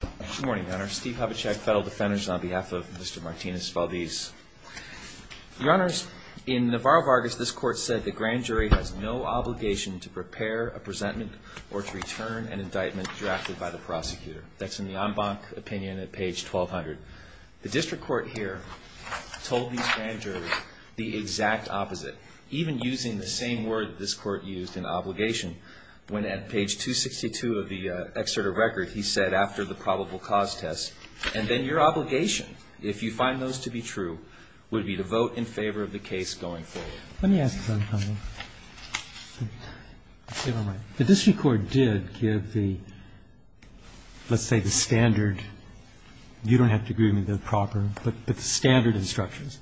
Good morning, Your Honor. Steve Hubachek, Federal Defenders, on behalf of Mr. Martinez-Valdez. Your Honors, in Navarro-Vargas, this Court said the Grand Jury has no obligation to prepare a presentment or to return an indictment drafted by the prosecutor. That's in the en banc opinion at page 1200. The District Court here told these Grand Juries the exact opposite, even using the same word this Court used in obligation. When at page 262 of the excerpt of record, he said, after the probable cause test, and then your obligation, if you find those to be true, would be to vote in favor of the case going forward. Let me ask you something. The District Court did give the, let's say the standard, you don't have to agree with me, the proper, but the standard instructions.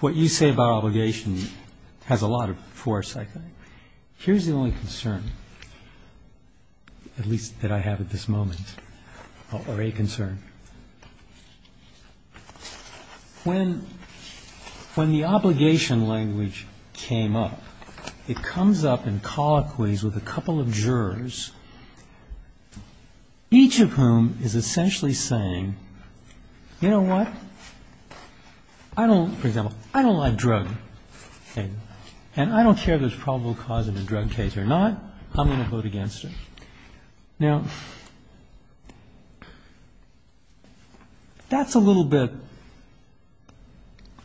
What you say about obligation has a lot of force, I think. Here's the only concern, at least that I have at this moment, or a concern. When the obligation language came up, it comes up in colloquies with a couple of jurors, each of whom is essentially saying, you know what, I don't, for example, I don't like drug, and I don't care if there's probable cause in a drug case or not, I'm going to vote against it. Now, that's a little bit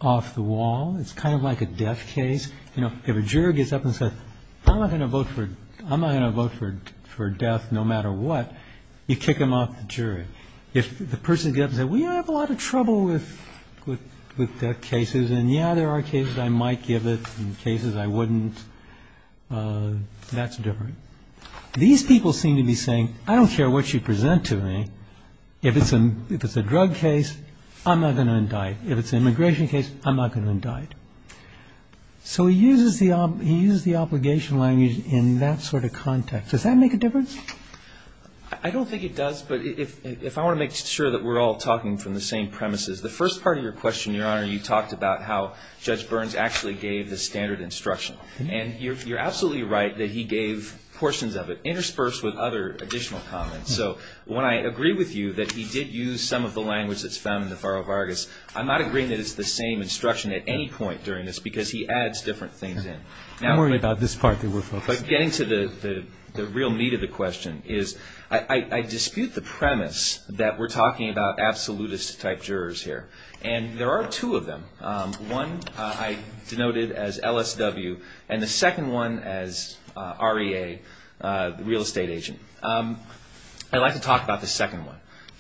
off the wall. It's kind of like a death case. You know, if a juror gets up and says, I'm not going to vote for death no matter what, you kick them off the jury. If the person gets up and says, we have a lot of trouble with death cases, and yeah, there are cases I might give it and cases I wouldn't, that's different. These people seem to be saying, I don't care what you present to me. If it's a drug case, I'm not going to indict. If it's an immigration case, I'm not going to indict. So he uses the obligation language in that sort of context. Does that make a difference? I don't think it does, but if I want to make sure that we're all talking from the same premises, the first part of your question, Your Honor, you talked about how Judge Burns actually gave the standard instruction, and you're absolutely right that he gave portions of it interspersed with other additional comments. So when I agree with you that he did use some of the language that's found in the Faro-Vargas, I'm not agreeing that it's the same instruction at any point during this, because he adds different things in. I'm worried about this part that we're focusing on. But getting to the real meat of the question is I dispute the premise that we're talking about absolutist-type jurors here, and there are two of them. One I denoted as LSW, and the second one as REA, the real estate agent. I'd like to talk about the second one.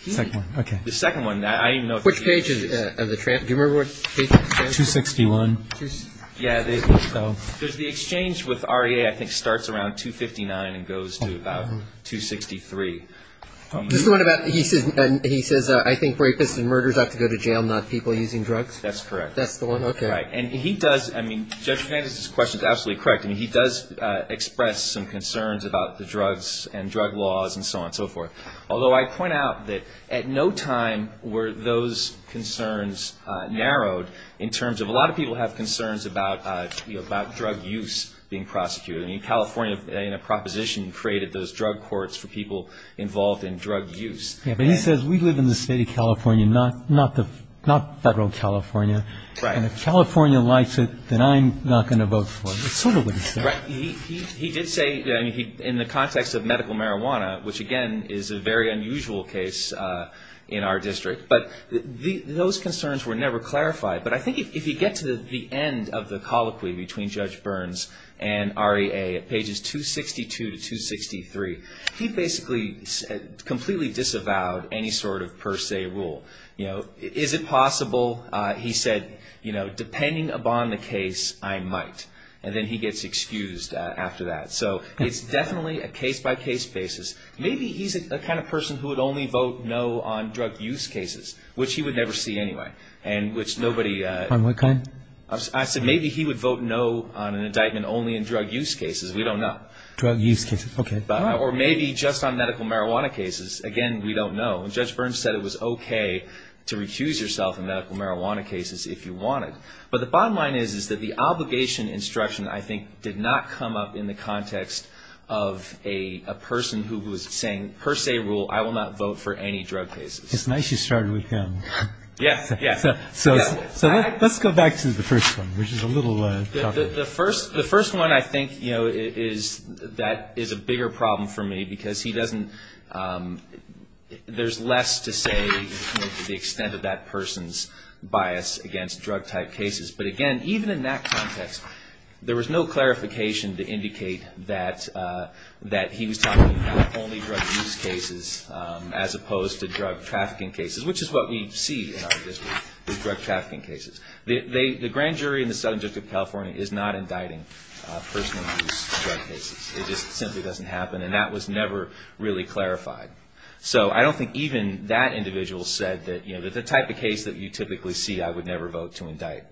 The second one, I don't even know if it's used. Which page is it? Do you remember which page? 261. Yeah, there's the exchange with REA, I think, starts around 259 and goes to about 263. He says, I think rapists and murderers have to go to jail, not people using drugs? That's correct. That's the one? Okay. And he does, I mean, Judge Fernandez's question is absolutely correct. He does express some concerns about the drugs and drug laws and so on and so forth. Although I point out that at no time were those concerns narrowed in terms of a lot of people have concerns about drug use being prosecuted. I mean, California, in a proposition, created those drug courts for people involved in drug use. Yeah, but he says we live in the state of California, not federal California. Right. And if California likes it, then I'm not going to vote for it. That's sort of what he said. He did say in the context of medical marijuana, which, again, is a very unusual case in our district. But those concerns were never clarified. But I think if you get to the end of the colloquy between Judge Burns and REA at pages 262 to 263, he basically completely disavowed any sort of per se rule. You know, is it possible, he said, you know, depending upon the case, I might. And then he gets excused after that. So it's definitely a case-by-case basis. Maybe he's the kind of person who would only vote no on drug use cases, which he would never see anyway. And which nobody. On what kind? I said maybe he would vote no on an indictment only in drug use cases. We don't know. Drug use cases. Okay. Or maybe just on medical marijuana cases. Again, we don't know. And Judge Burns said it was okay to refuse yourself in medical marijuana cases if you wanted. But the bottom line is, is that the obligation instruction, I think, did not come up in the context of a person who was saying per se rule, I will not vote for any drug cases. It's nice you started with him. Yes. Yes. So let's go back to the first one, which is a little tougher. The first one, I think, you know, is that is a bigger problem for me. Because he doesn't, there's less to say to the extent of that person's bias against drug-type cases. But, again, even in that context, there was no clarification to indicate that he was talking about only drug use cases as opposed to drug trafficking cases, which is what we see in our district, is drug trafficking cases. The grand jury in the Southern District of California is not indicting personal use drug cases. It just simply doesn't happen. And that was never really clarified. So I don't think even that individual said that, you know, the type of case that you typically see, I would never vote to indict.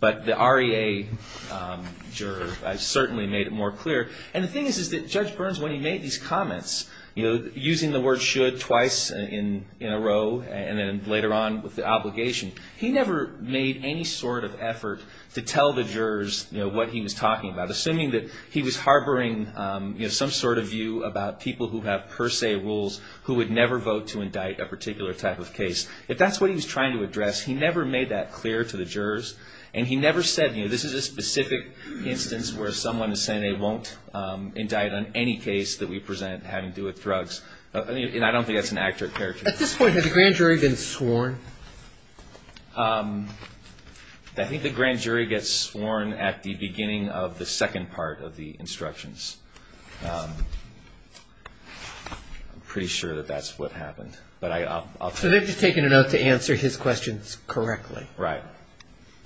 But the REA juror certainly made it more clear. And the thing is, is that Judge Burns, when he made these comments, you know, using the word should twice in a row and then later on with the obligation, he never made any sort of effort to tell the jurors, you know, what he was talking about, assuming that he was harboring, you know, some sort of view about people who have per se rules, who would never vote to indict a particular type of case. If that's what he was trying to address, he never made that clear to the jurors. And he never said, you know, this is a specific instance where someone is saying they won't indict on any case that we present having to do with drugs. And I don't think that's an accurate characterization. At this point, has the grand jury been sworn? I think the grand jury gets sworn at the beginning of the second part of the instructions. I'm pretty sure that that's what happened. But I'll tell you. So they've just taken a note to answer his questions correctly. Right.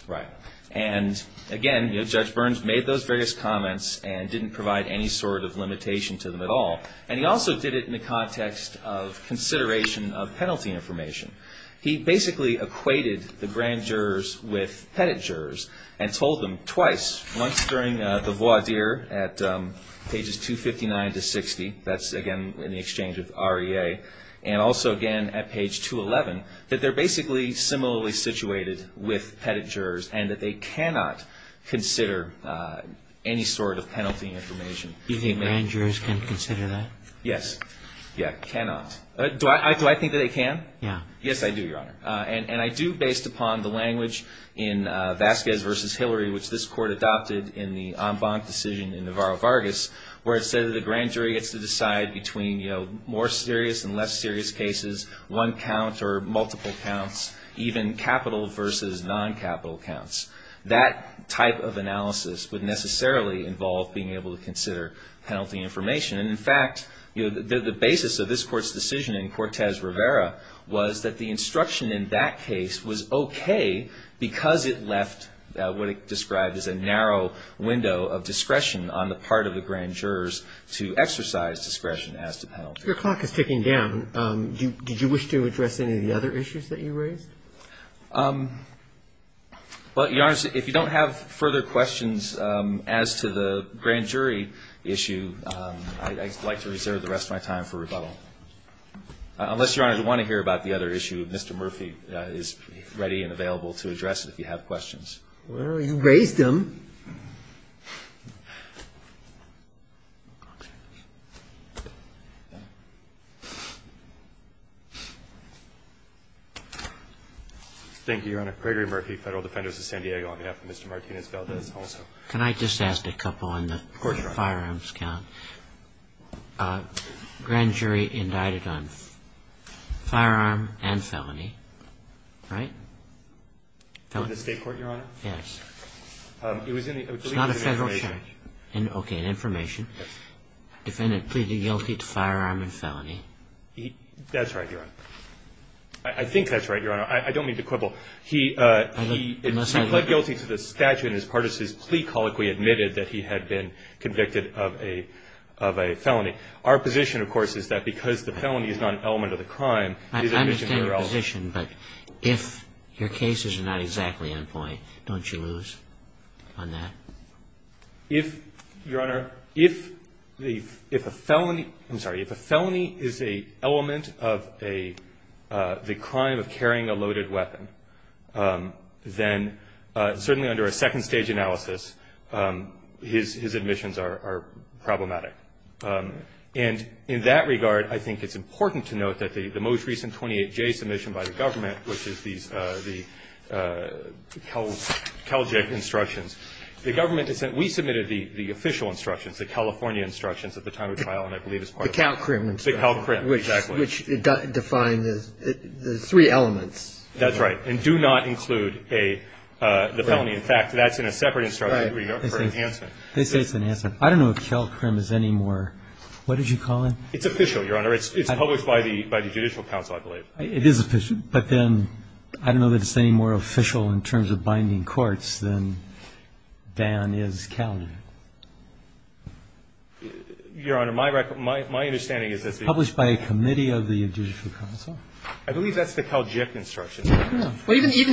Right. And, again, you know, Judge Burns made those various comments and didn't provide any sort of limitation to them at all. And he also did it in the context of consideration of penalty information. He basically equated the grand jurors with pettit jurors and told them twice, once during the voir dire at pages 259 to 60. That's, again, in the exchange with REA. And also, again, at page 211, that they're basically similarly situated with pettit jurors and that they cannot consider any sort of penalty information. Do you think grand jurors can consider that? Yes. Yeah, cannot. Do I think that they can? Yes, I do, Your Honor. And I do based upon the language in Vasquez v. Hillary, which this court adopted in the en banc decision in Navarro-Vargas, where it said that the grand jury gets to decide between, you know, more serious and less serious cases, one count or multiple counts, even capital versus non-capital counts. That type of analysis would necessarily involve being able to consider penalty information. And, in fact, the basis of this court's decision in Cortez-Rivera was that the instruction in that case was okay because it left what it described as a narrow window of discretion on the part of the grand jurors to exercise discretion as to penalty. Your clock is ticking down. Did you wish to address any of the other issues that you raised? Well, Your Honor, if you don't have further questions as to the grand jury issue, I'd like to reserve the rest of my time for rebuttal. Unless, Your Honor, you want to hear about the other issue, Mr. Murphy is ready and available to address it if you have questions. Well, you raised them. Thank you, Your Honor. Gregory Murphy, Federal Defender of San Diego, on behalf of Mr. Martinez-Valdez also. Can I just ask a couple on the firearms count? Of course, Your Honor. Grand jury indicted on firearm and felony, right? That's right, Your Honor. I think that's right, Your Honor. I don't mean to quibble. He pled guilty to the statute, and as part of his plea, colloquially admitted that he had been convicted of a felony. Our position, of course, is that because the felony is not an element of the crime, it is a misdemeanor element. it is a misdemeanor element. Your cases are not exactly on point. Don't you lose on that? If, Your Honor, if a felony is an element of the crime of carrying a loaded weapon, then certainly under a second-stage analysis, his admissions are problematic. And in that regard, I think it's important to note that the most recent 28J submission by the government, which is the CalJIC instructions, the government has said we submitted the official instructions, the California instructions at the time of trial, and I believe it's part of the CalCrim. The CalCrim, exactly. Which defined the three elements. That's right. And do not include the felony. In fact, that's in a separate instruction for enhancement. They say it's an enhancement. I don't know if CalCrim is any more. What did you call it? It's official, Your Honor. It's published by the Judicial Council, I believe. It is official, but then I don't know that it's any more official in terms of binding courts than Dan is CalJIC. Your Honor, my understanding is that it's published by a committee of the Judicial Council. I believe that's the CalJIC instructions. Even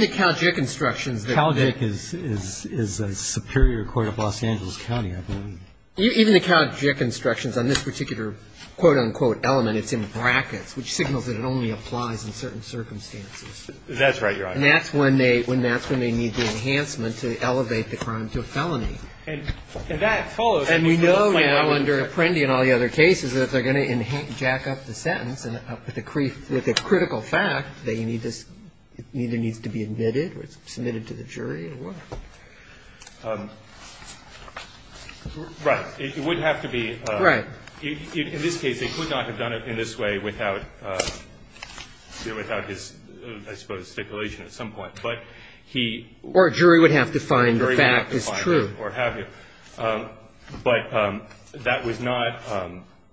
the CalJIC instructions. CalJIC is a superior court of Los Angeles County, I believe. Even the CalJIC instructions on this particular quote, unquote, element, it's in brackets, which signals that it only applies in certain circumstances. That's right, Your Honor. And that's when they need the enhancement to elevate the crime to a felony. And that follows. And we know now under Apprendi and all the other cases that they're going to jack up the sentence with a critical fact that either needs to be admitted or submitted to the jury or what. Right. It would have to be. Right. In this case, they could not have done it in this way without his, I suppose, stipulation at some point. But he. Or a jury would have to find the fact is true. Or have you. But that was not,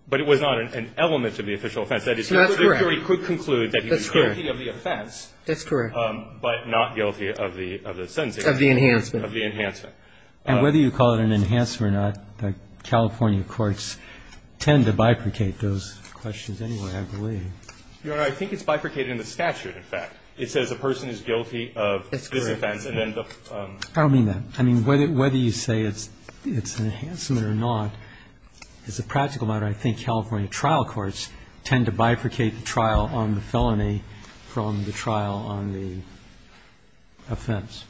but it was not an element of the official offense. That is correct. So the jury could conclude that he was guilty of the offense. That's correct. But not guilty of the sentence. Of the enhancement. Of the enhancement. And whether you call it an enhancement or not, the California courts tend to bifurcate those questions anyway, I believe. Your Honor, I think it's bifurcated in the statute, in fact. It says a person is guilty of this offense and then the. I don't mean that. I mean, whether you say it's an enhancement or not, as a practical matter, I think California trial courts tend to bifurcate the trial on the felony from the trial on the offense,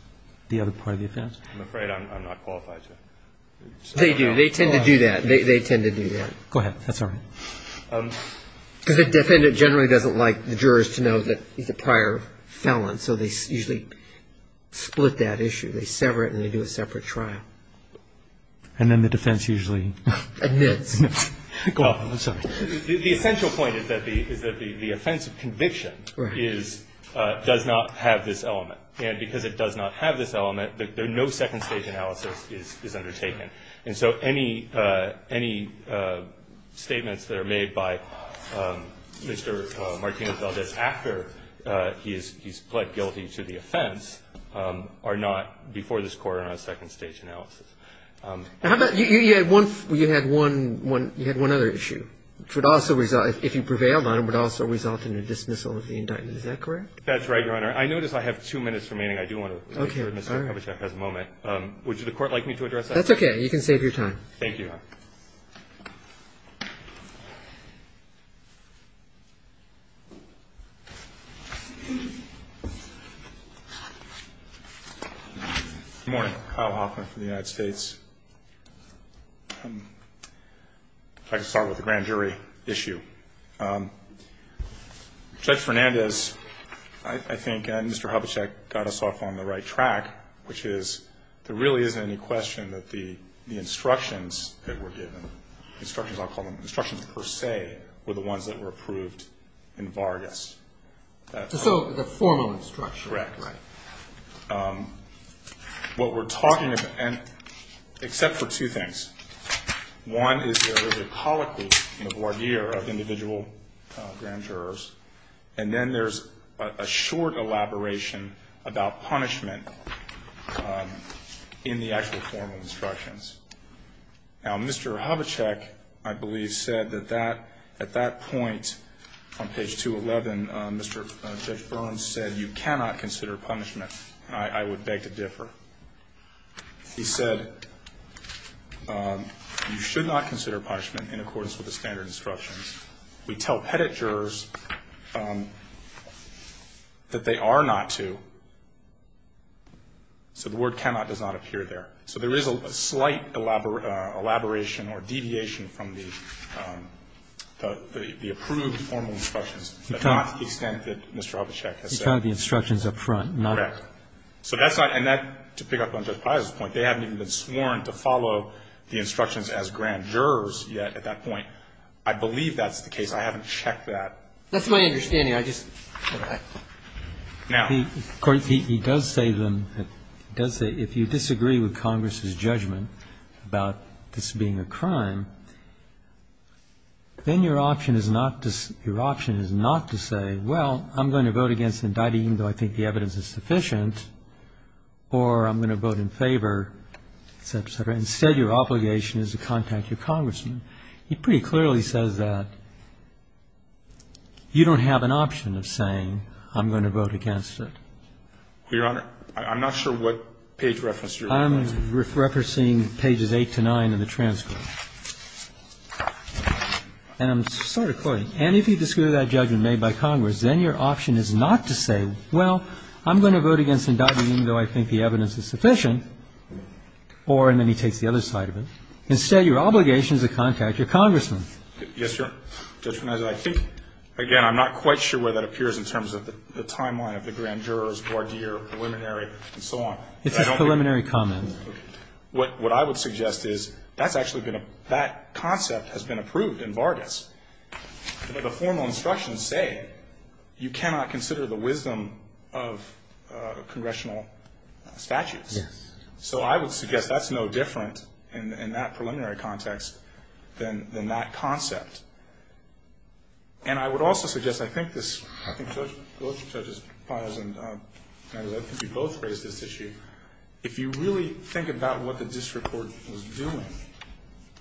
the other part of the offense. I'm afraid I'm not qualified to. They do. They tend to do that. They tend to do that. Go ahead. That's all right. Because a defendant generally doesn't like the jurors to know that he's a prior felon, so they usually split that issue. They sever it and they do a separate trial. And then the defense usually. Admits. I'm sorry. The essential point is that the offense of conviction is, does not have this element. And because it does not have this element, no second-stage analysis is undertaken. And so any statements that are made by Mr. Martino-Valdez after he's pled guilty to the offense are not, before this Court, are not second-stage analysis. You had one other issue, which would also result, if you prevailed on it, would also result in a dismissal of the indictment. Is that correct? That's right, Your Honor. I notice I have two minutes remaining. I do want to make sure Mr. Kovachek has a moment. Would you, the Court, like me to address that? That's okay. You can save your time. Thank you. Good morning. Kyle Hoffman from the United States. If I could start with the grand jury issue. Judge Fernandez, I think, and Mr. Kovachek, got us off on the right track, which is there really isn't any question that the instructions that were given, instructions I'll call them, instructions per se, were the ones that were approved in Vargas. So the formal instructions. Correct. Right. What we're talking about, except for two things. One is there is a colloquy in the voir dire of individual grand jurors. And then there's a short elaboration about punishment in the actual formal instructions. Now, Mr. Kovachek, I believe, said that at that point on page 211, Judge Fernandez said you cannot consider punishment. I would beg to differ. He said you should not consider punishment in accordance with the standard instructions. We tell pettit jurors that they are not to, so the word cannot does not appear there. So there is a slight elaboration or deviation from the approved formal instructions, but not to the extent that Mr. Kovachek has said. You counted the instructions up front. Correct. So that's not, and that, to pick up on Judge Piazza's point, they haven't even been sworn to follow the instructions as grand jurors yet at that point. I believe that's the case. I haven't checked that. That's my understanding. I just. Now. Court, he does say then, he does say if you disagree with Congress's judgment about this being a crime, then your option is not to, your option is not to say, well, I'm going to vote against the indictment even though I think the evidence is sufficient, or I'm going to vote in favor, et cetera, et cetera. Instead, your obligation is to contact your congressman. He pretty clearly says that you don't have an option of saying I'm going to vote against it. Your Honor, I'm not sure what page reference you're referring to. I'm referencing pages 8 to 9 in the transcript. And I'm sort of quoting. And if you disagree with that judgment made by Congress, then your option is not to say, well, I'm going to vote against the indictment even though I think the evidence is sufficient, or, and then he takes the other side of it. Instead, your obligation is to contact your congressman. Yes, Your Honor. Judge Piazza, I think, again, I'm not quite sure where that appears in terms of the timeline of the grand jurors, voir dire, preliminary, and so on. It's a preliminary comment. What I would suggest is that's actually been a, that concept has been approved in Vargas. The formal instructions say you cannot consider the wisdom of congressional statutes. Yes. So I would suggest that's no different in that preliminary context than that concept. And I would also suggest, I think this, I think Judge Piazza and I think you both raised this issue. If you really think about what the district court was doing,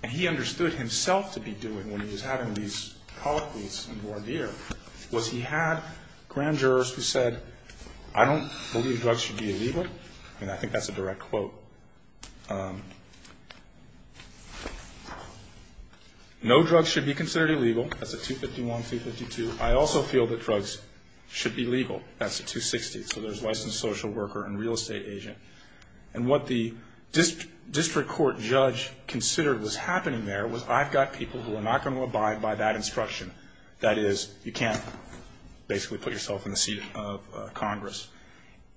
and he understood himself to be doing when he was having these colloquies in voir dire, was he had grand jurors who said, I don't believe drugs should be illegal. I mean, I think that's a direct quote. No drugs should be considered illegal. That's a 251, 252. I also feel that drugs should be legal. That's a 260. So there's licensed social worker and real estate agent. And what the district court judge considered was happening there was I've got people who are not going to abide by that instruction. That is, you can't basically put yourself in the seat of Congress.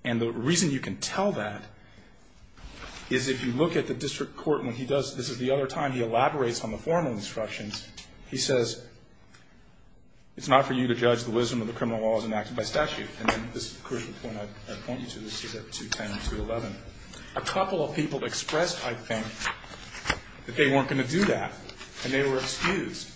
And the reason you can tell that is if you look at the district court when he does, this is the other time he elaborates on the formal instructions, he says, it's not for you to judge the wisdom of the criminal laws enacted by statute. And then this crucial point I point you to, this is at 210 and 211. A couple of people expressed, I think, that they weren't going to do that, and they were excused.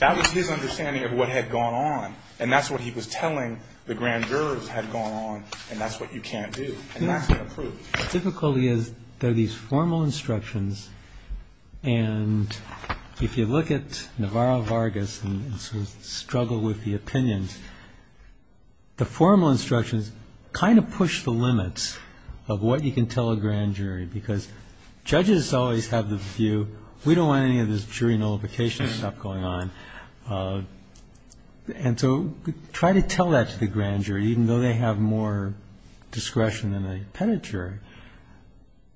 That was his understanding of what had gone on. And that's what he was telling the grand jurors had gone on, and that's what you can't do. And that's been approved. The difficulty is there are these formal instructions, and if you look at Navarro Vargas and sort of struggle with the opinions, the formal instructions kind of push the limits of what you can tell a grand jury, because judges always have the view, we don't want any of this jury nullification stuff going on. And so try to tell that to the grand jury, even though they have more discretion than a pettit jury.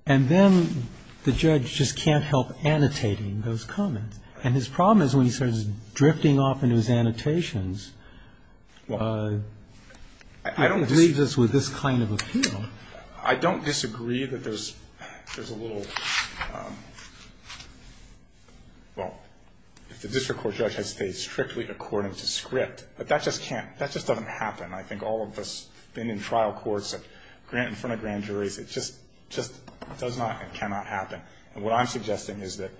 And then the judge just can't help annotating those comments. And his problem is when he starts drifting off into his annotations, he leaves us with this kind of appeal. I don't disagree that there's a little, well, if the district court judge has stayed strictly according to script, but that just can't, that just doesn't happen. I think all of us have been in trial courts, grant in front of grand juries, it just does not and cannot happen. And what I'm suggesting is that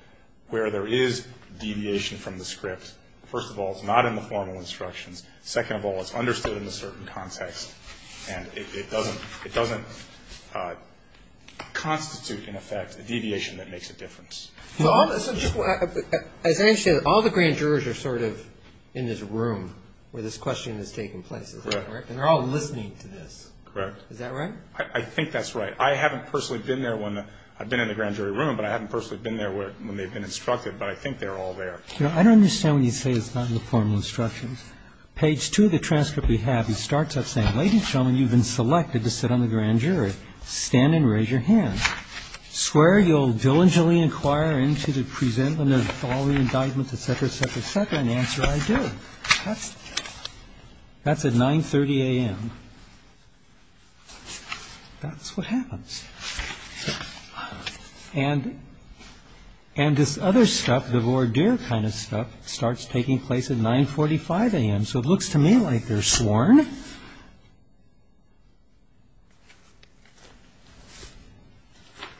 where there is deviation from the script, first of all, it's not in the formal instructions. Second of all, it's understood in a certain context, and it doesn't constitute, in effect, a deviation that makes a difference. So just as I understand it, all the grand jurors are sort of in this room where this question is taking place, is that correct? Correct. And they're all listening to this. Correct. Is that right? I think that's right. I haven't personally been there when, I've been in the grand jury room, but I haven't personally been there when they've been instructed. But I think they're all there. I don't understand when you say it's not in the formal instructions. Page 2 of the transcript we have, he starts out saying, ladies and gentlemen, you've been selected to sit on the grand jury. Stand and raise your hands. Swear you'll diligently inquire into the presentment of all the indictments, et cetera, et cetera, et cetera. And the answer, I do. That's at 9.30 a.m. That's what happens. And this other stuff, the voir dire kind of stuff, starts taking place at 9.45 a.m. So it looks to me like they're sworn.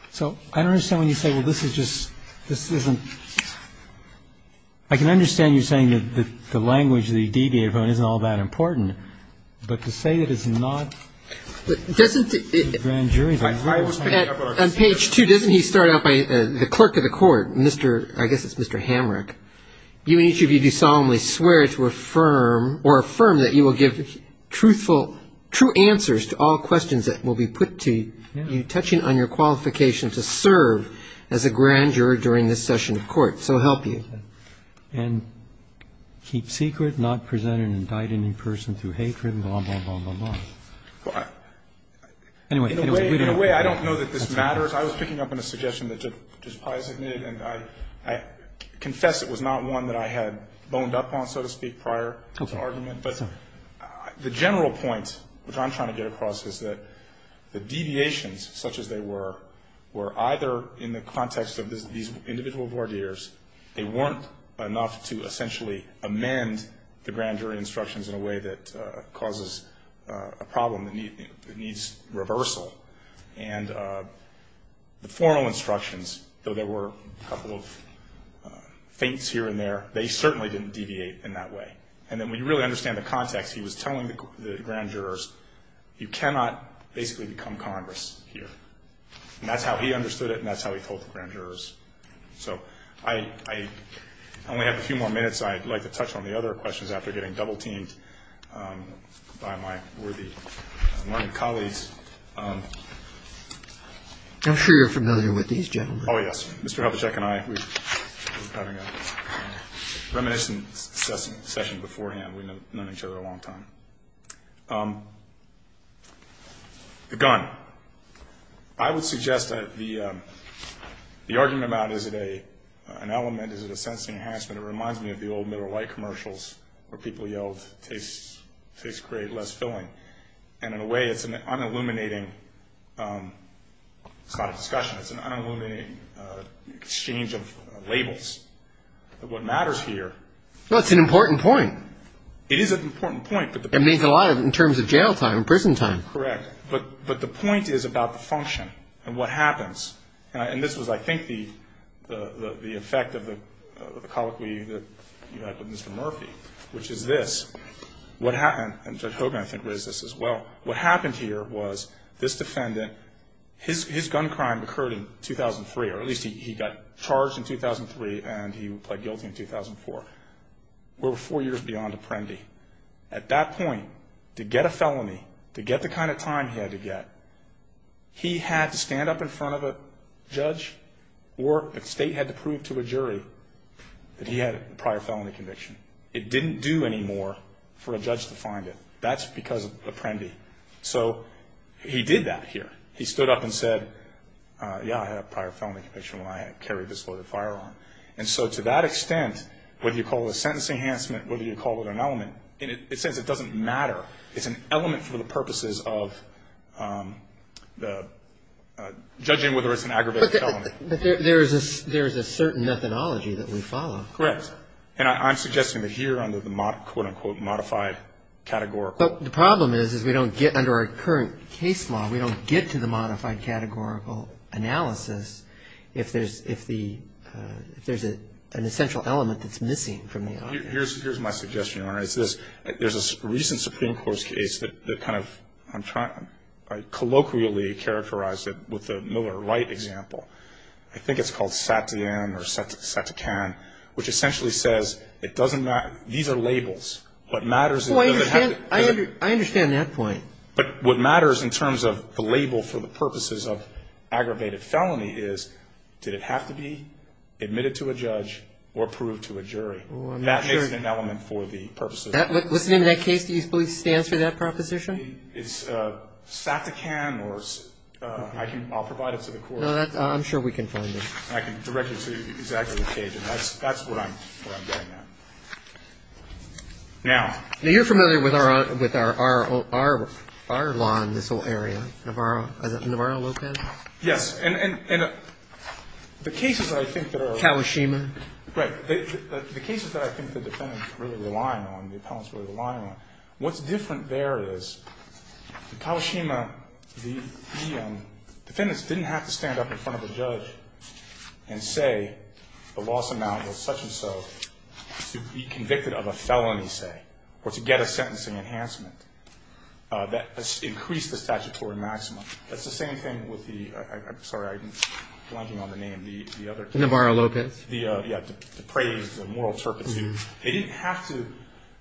So I don't understand when you say, well, this is just, this isn't, I can understand you saying that the language, the deviator phone isn't all that important. But to say it is not in the grand jury room. On page 2, doesn't he start out by the clerk of the court, I guess it's Mr. Hamrick, you and each of you do solemnly swear to affirm, or affirm that you will give truthful, true answers to all questions that will be put to you, touching on your qualification to serve as a grand jury during this session of court. So help you. Okay. And keep secret, not present an indicting person through hatred, and blah, blah, blah, blah, blah. Anyway. In a way, I don't know that this matters. I was picking up on a suggestion that Justice Breyer submitted, and I confess it was not one that I had boned up on, so to speak, prior to the argument. But the general point, which I'm trying to get across, is that the deviations, such as they were, were either in the context of these individual voir dires, they weren't enough to essentially amend the grand jury instructions in a way that causes a problem that needs reversal. And the formal instructions, though there were a couple of faints here and there, they certainly didn't deviate in that way. And then when you really understand the context, he was telling the grand jurors, you cannot basically become Congress here. And that's how he understood it, and that's how he told the grand jurors. So I only have a few more minutes. I'd like to touch on the other questions after getting double-teamed by my worthy colleagues. I'm sure you're familiar with these gentlemen. Oh, yes. Mr. Helichek and I were having a reminiscence session beforehand. We've known each other a long time. The gun. I would suggest that the argument about is it an element, is it a sense enhancement, it reminds me of the old middle-light commercials where people yelled, taste great, less filling. And in a way, it's an unilluminating kind of discussion. It's an unilluminating exchange of labels of what matters here. Well, it's an important point. It is an important point. It means a lot in terms of jail time and prison time. You're correct. But the point is about the function and what happens. And this was, I think, the effect of the colloquy that you had with Mr. Murphy, which is this. And Judge Hogan, I think, raised this as well. What happened here was this defendant, his gun crime occurred in 2003, or at least he got charged in 2003 and he pled guilty in 2004. We're four years beyond apprendi. At that point, to get a felony, to get the kind of time he had to get, he had to stand up in front of a judge or the state had to prove to a jury that he had a prior felony conviction. It didn't do anymore for a judge to find it. That's because of apprendi. So he did that here. He stood up and said, yeah, I had a prior felony conviction when I carried this loaded firearm. And so to that extent, whether you call it a sentence enhancement, whether you call it an element, in a sense it doesn't matter. It's an element for the purposes of judging whether it's an aggravated felony. But there is a certain methodology that we follow. Correct. And I'm suggesting that here under the, quote, unquote, modified categorical. But the problem is, is we don't get under our current case law, we don't get to the modified categorical analysis if there's an essential element that's missing from the argument. Here's my suggestion, Your Honor. It's this. There's a recent Supreme Court case that kind of, I'm trying, I colloquially characterized it with the Miller Wright example. I think it's called Satien or Satican, which essentially says it doesn't matter. These are labels. What matters is. I understand that point. But what matters in terms of the label for the purposes of aggravated felony is, did it have to be admitted to a judge or proved to a jury? That makes it an element for the purposes. What's the name of that case? Do you believe it stands for that proposition? It's Satican or I can, I'll provide it to the court. I'm sure we can find it. I can direct you to exactly the case. That's what I'm getting at. Now. Now, you're familiar with our law in this whole area. Navarro? Navarro, Lopez? Yes. And the cases that I think that are. Kawashima. Right. The cases that I think the defendants really rely on, the appellants really rely on, what's different there is the Kawashima, the defendants didn't have to stand up in front of a judge and say the loss amount was such and so to be convicted of a felony, say, or to get a sentencing enhancement. That increased the statutory maximum. That's the same thing with the, I'm sorry, I'm blanking on the name, the other. Navarro, Lopez. Yeah, the praise, the moral turpitude. They didn't have to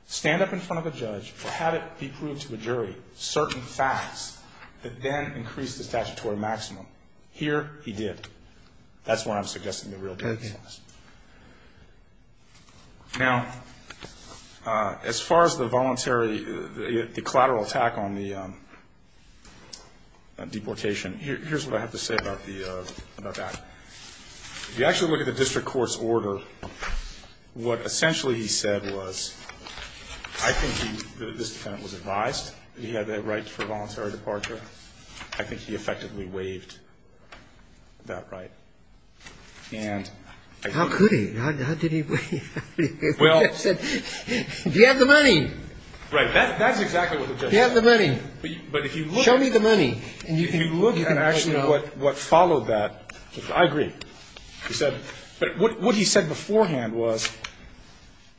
stand up in front of a judge or have it be proved to a jury, certain facts that then increased the statutory maximum. Here, he did. That's what I'm suggesting the real difference was. Okay. Now, as far as the voluntary, the collateral attack on the deportation, here's what I have to say about that. If you actually look at the district court's order, what essentially he said was, I think this defendant was advised that he had the right for voluntary departure. I think he effectively waived that right. And I think... How could he? How did he waive it? Well... He said, do you have the money? Right. That's exactly what the judge said. Do you have the money? But if you look at... Show me the money. And if you look at actually what followed that, I agree. He said, but what he said beforehand was,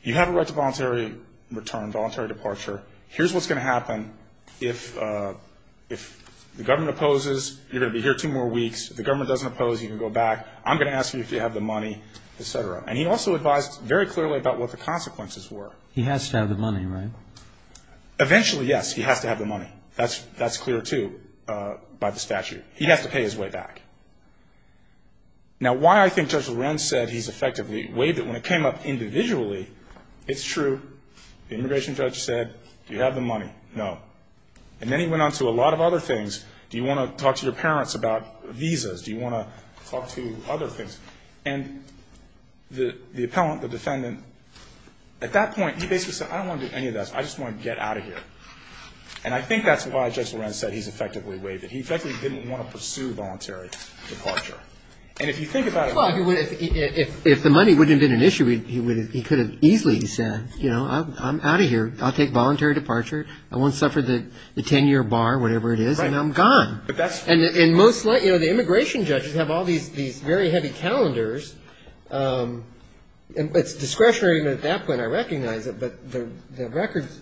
you have a right to voluntary return, voluntary departure. Here's what's going to happen. If the government opposes, you're going to be here two more weeks. If the government doesn't oppose, you can go back. I'm going to ask you if you have the money, et cetera. And he also advised very clearly about what the consequences were. He has to have the money, right? Eventually, yes. He has to have the money. That's clear, too, by the statute. He has to pay his way back. Now, why I think Judge Lorenz said he's effectively waived it, when it came up individually, it's true. The immigration judge said, do you have the money? No. And then he went on to a lot of other things. Do you want to talk to your parents about visas? Do you want to talk to other things? And the appellant, the defendant, at that point, he basically said, I don't want to do any of this. I just want to get out of here. And I think that's why Judge Lorenz said he's effectively waived it. He effectively didn't want to pursue voluntary departure. And if you think about it... He could have easily said, you know, I'm out of here. I'll take voluntary departure. I won't suffer the 10-year bar, whatever it is, and I'm gone. And most likely, you know, the immigration judges have all these very heavy calendars. It's discretionary, but at that point I recognize it. But the records,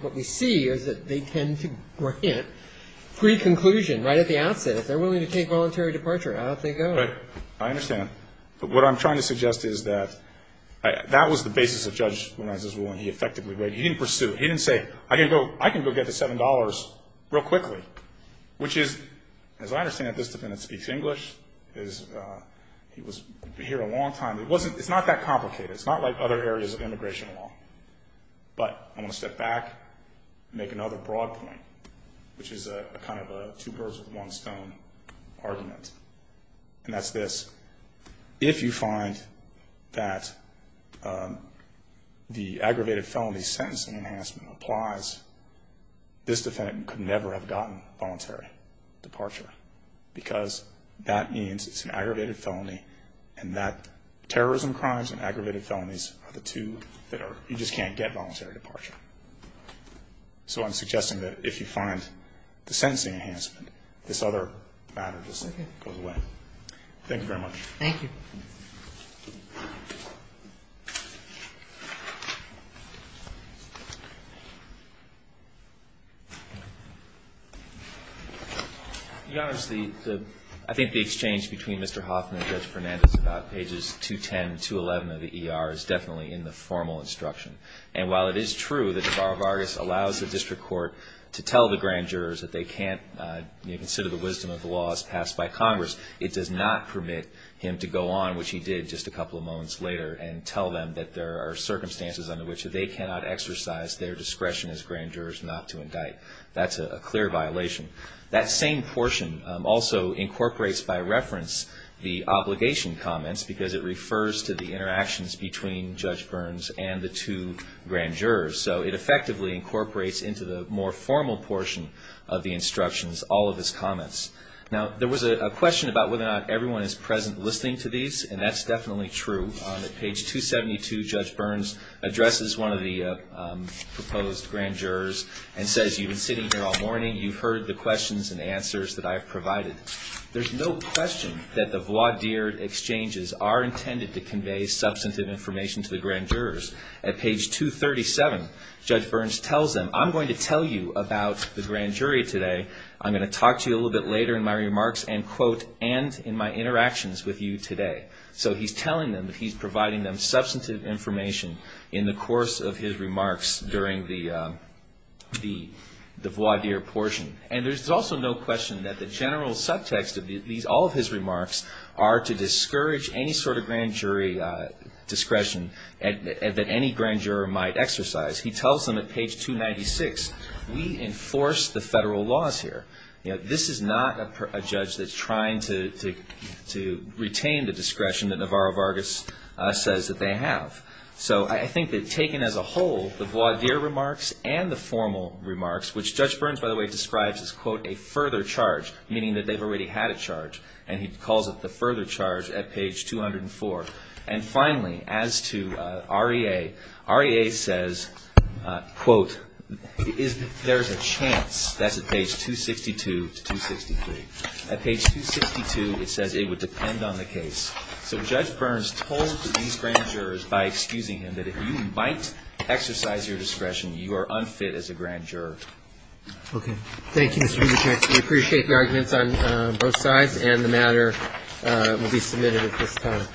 what we see is that they tend to grant pre-conclusion right at the outset. If they're willing to take voluntary departure, out they go. Right. I understand. But what I'm trying to suggest is that that was the basis of Judge Lorenz's ruling. He effectively waived it. He didn't pursue it. He didn't say, I can go get the $7 real quickly, which is, as I understand it, this defendant speaks English. He was here a long time. It's not that complicated. It's not like other areas of immigration law. But I want to step back and make another broad point, which is kind of a two birds with one stone argument. And that's this. If you find that the aggravated felony sentencing enhancement applies, this defendant could never have gotten voluntary departure because that means it's an aggravated felony and that terrorism crimes and aggravated felonies are the two that are, you just can't get voluntary departure. So I'm suggesting that if you find the sentencing enhancement, this other matter just goes away. Thank you very much. Thank you. Your Honor, I think the exchange between Mr. Hoffman and Judge Fernandez about pages 210 and 211 of the ER is definitely in the formal instruction. And while it is true that the Bar of Argos allows the district court to tell the grand jurors that they can't, you know, consider the wisdom of the laws passed by Congress, it does not permit him to go on, which he did just a couple of moments later, and tell them that there are circumstances under which they cannot exercise their discretion as grand jurors not to indict. That's a clear violation. That same portion also incorporates by reference the obligation comments because it refers to the interactions between Judge Burns and the two grand jurors. So it effectively incorporates into the more formal portion of the instructions all of his comments. Now, there was a question about whether or not everyone is present listening to these, and that's definitely true. On page 272, Judge Burns addresses one of the proposed grand jurors and says, You've been sitting here all morning. You've heard the questions and answers that I've provided. There's no question that the voir dire exchanges are intended to convey substantive information to the grand jurors. At page 237, Judge Burns tells them, I'm going to tell you about the grand jury today. I'm going to talk to you a little bit later in my remarks and, quote, and in my interactions with you today. So he's telling them that he's providing them substantive information in the course of his remarks during the voir dire portion. And there's also no question that the general subtext of all of his remarks are to discourage any sort of grand jury discretion that any grand juror might exercise. He tells them at page 296, we enforce the federal laws here. This is not a judge that's trying to retain the discretion that Navarro Vargas says that they have. So I think that taken as a whole, the voir dire remarks and the formal remarks, which Judge Burns, by the way, describes as, quote, a further charge, meaning that they've already had a charge. And he calls it the further charge at page 204. And finally, as to REA, REA says, quote, there's a chance. That's at page 262 to 263. At page 262, it says it would depend on the case. So Judge Burns told these grand jurors, by excusing him, that if you might exercise your discretion, you are unfit as a grand juror. Okay. Thank you, Mr. Rubinstein. We appreciate the arguments on both sides. And the matter will be submitted at this time.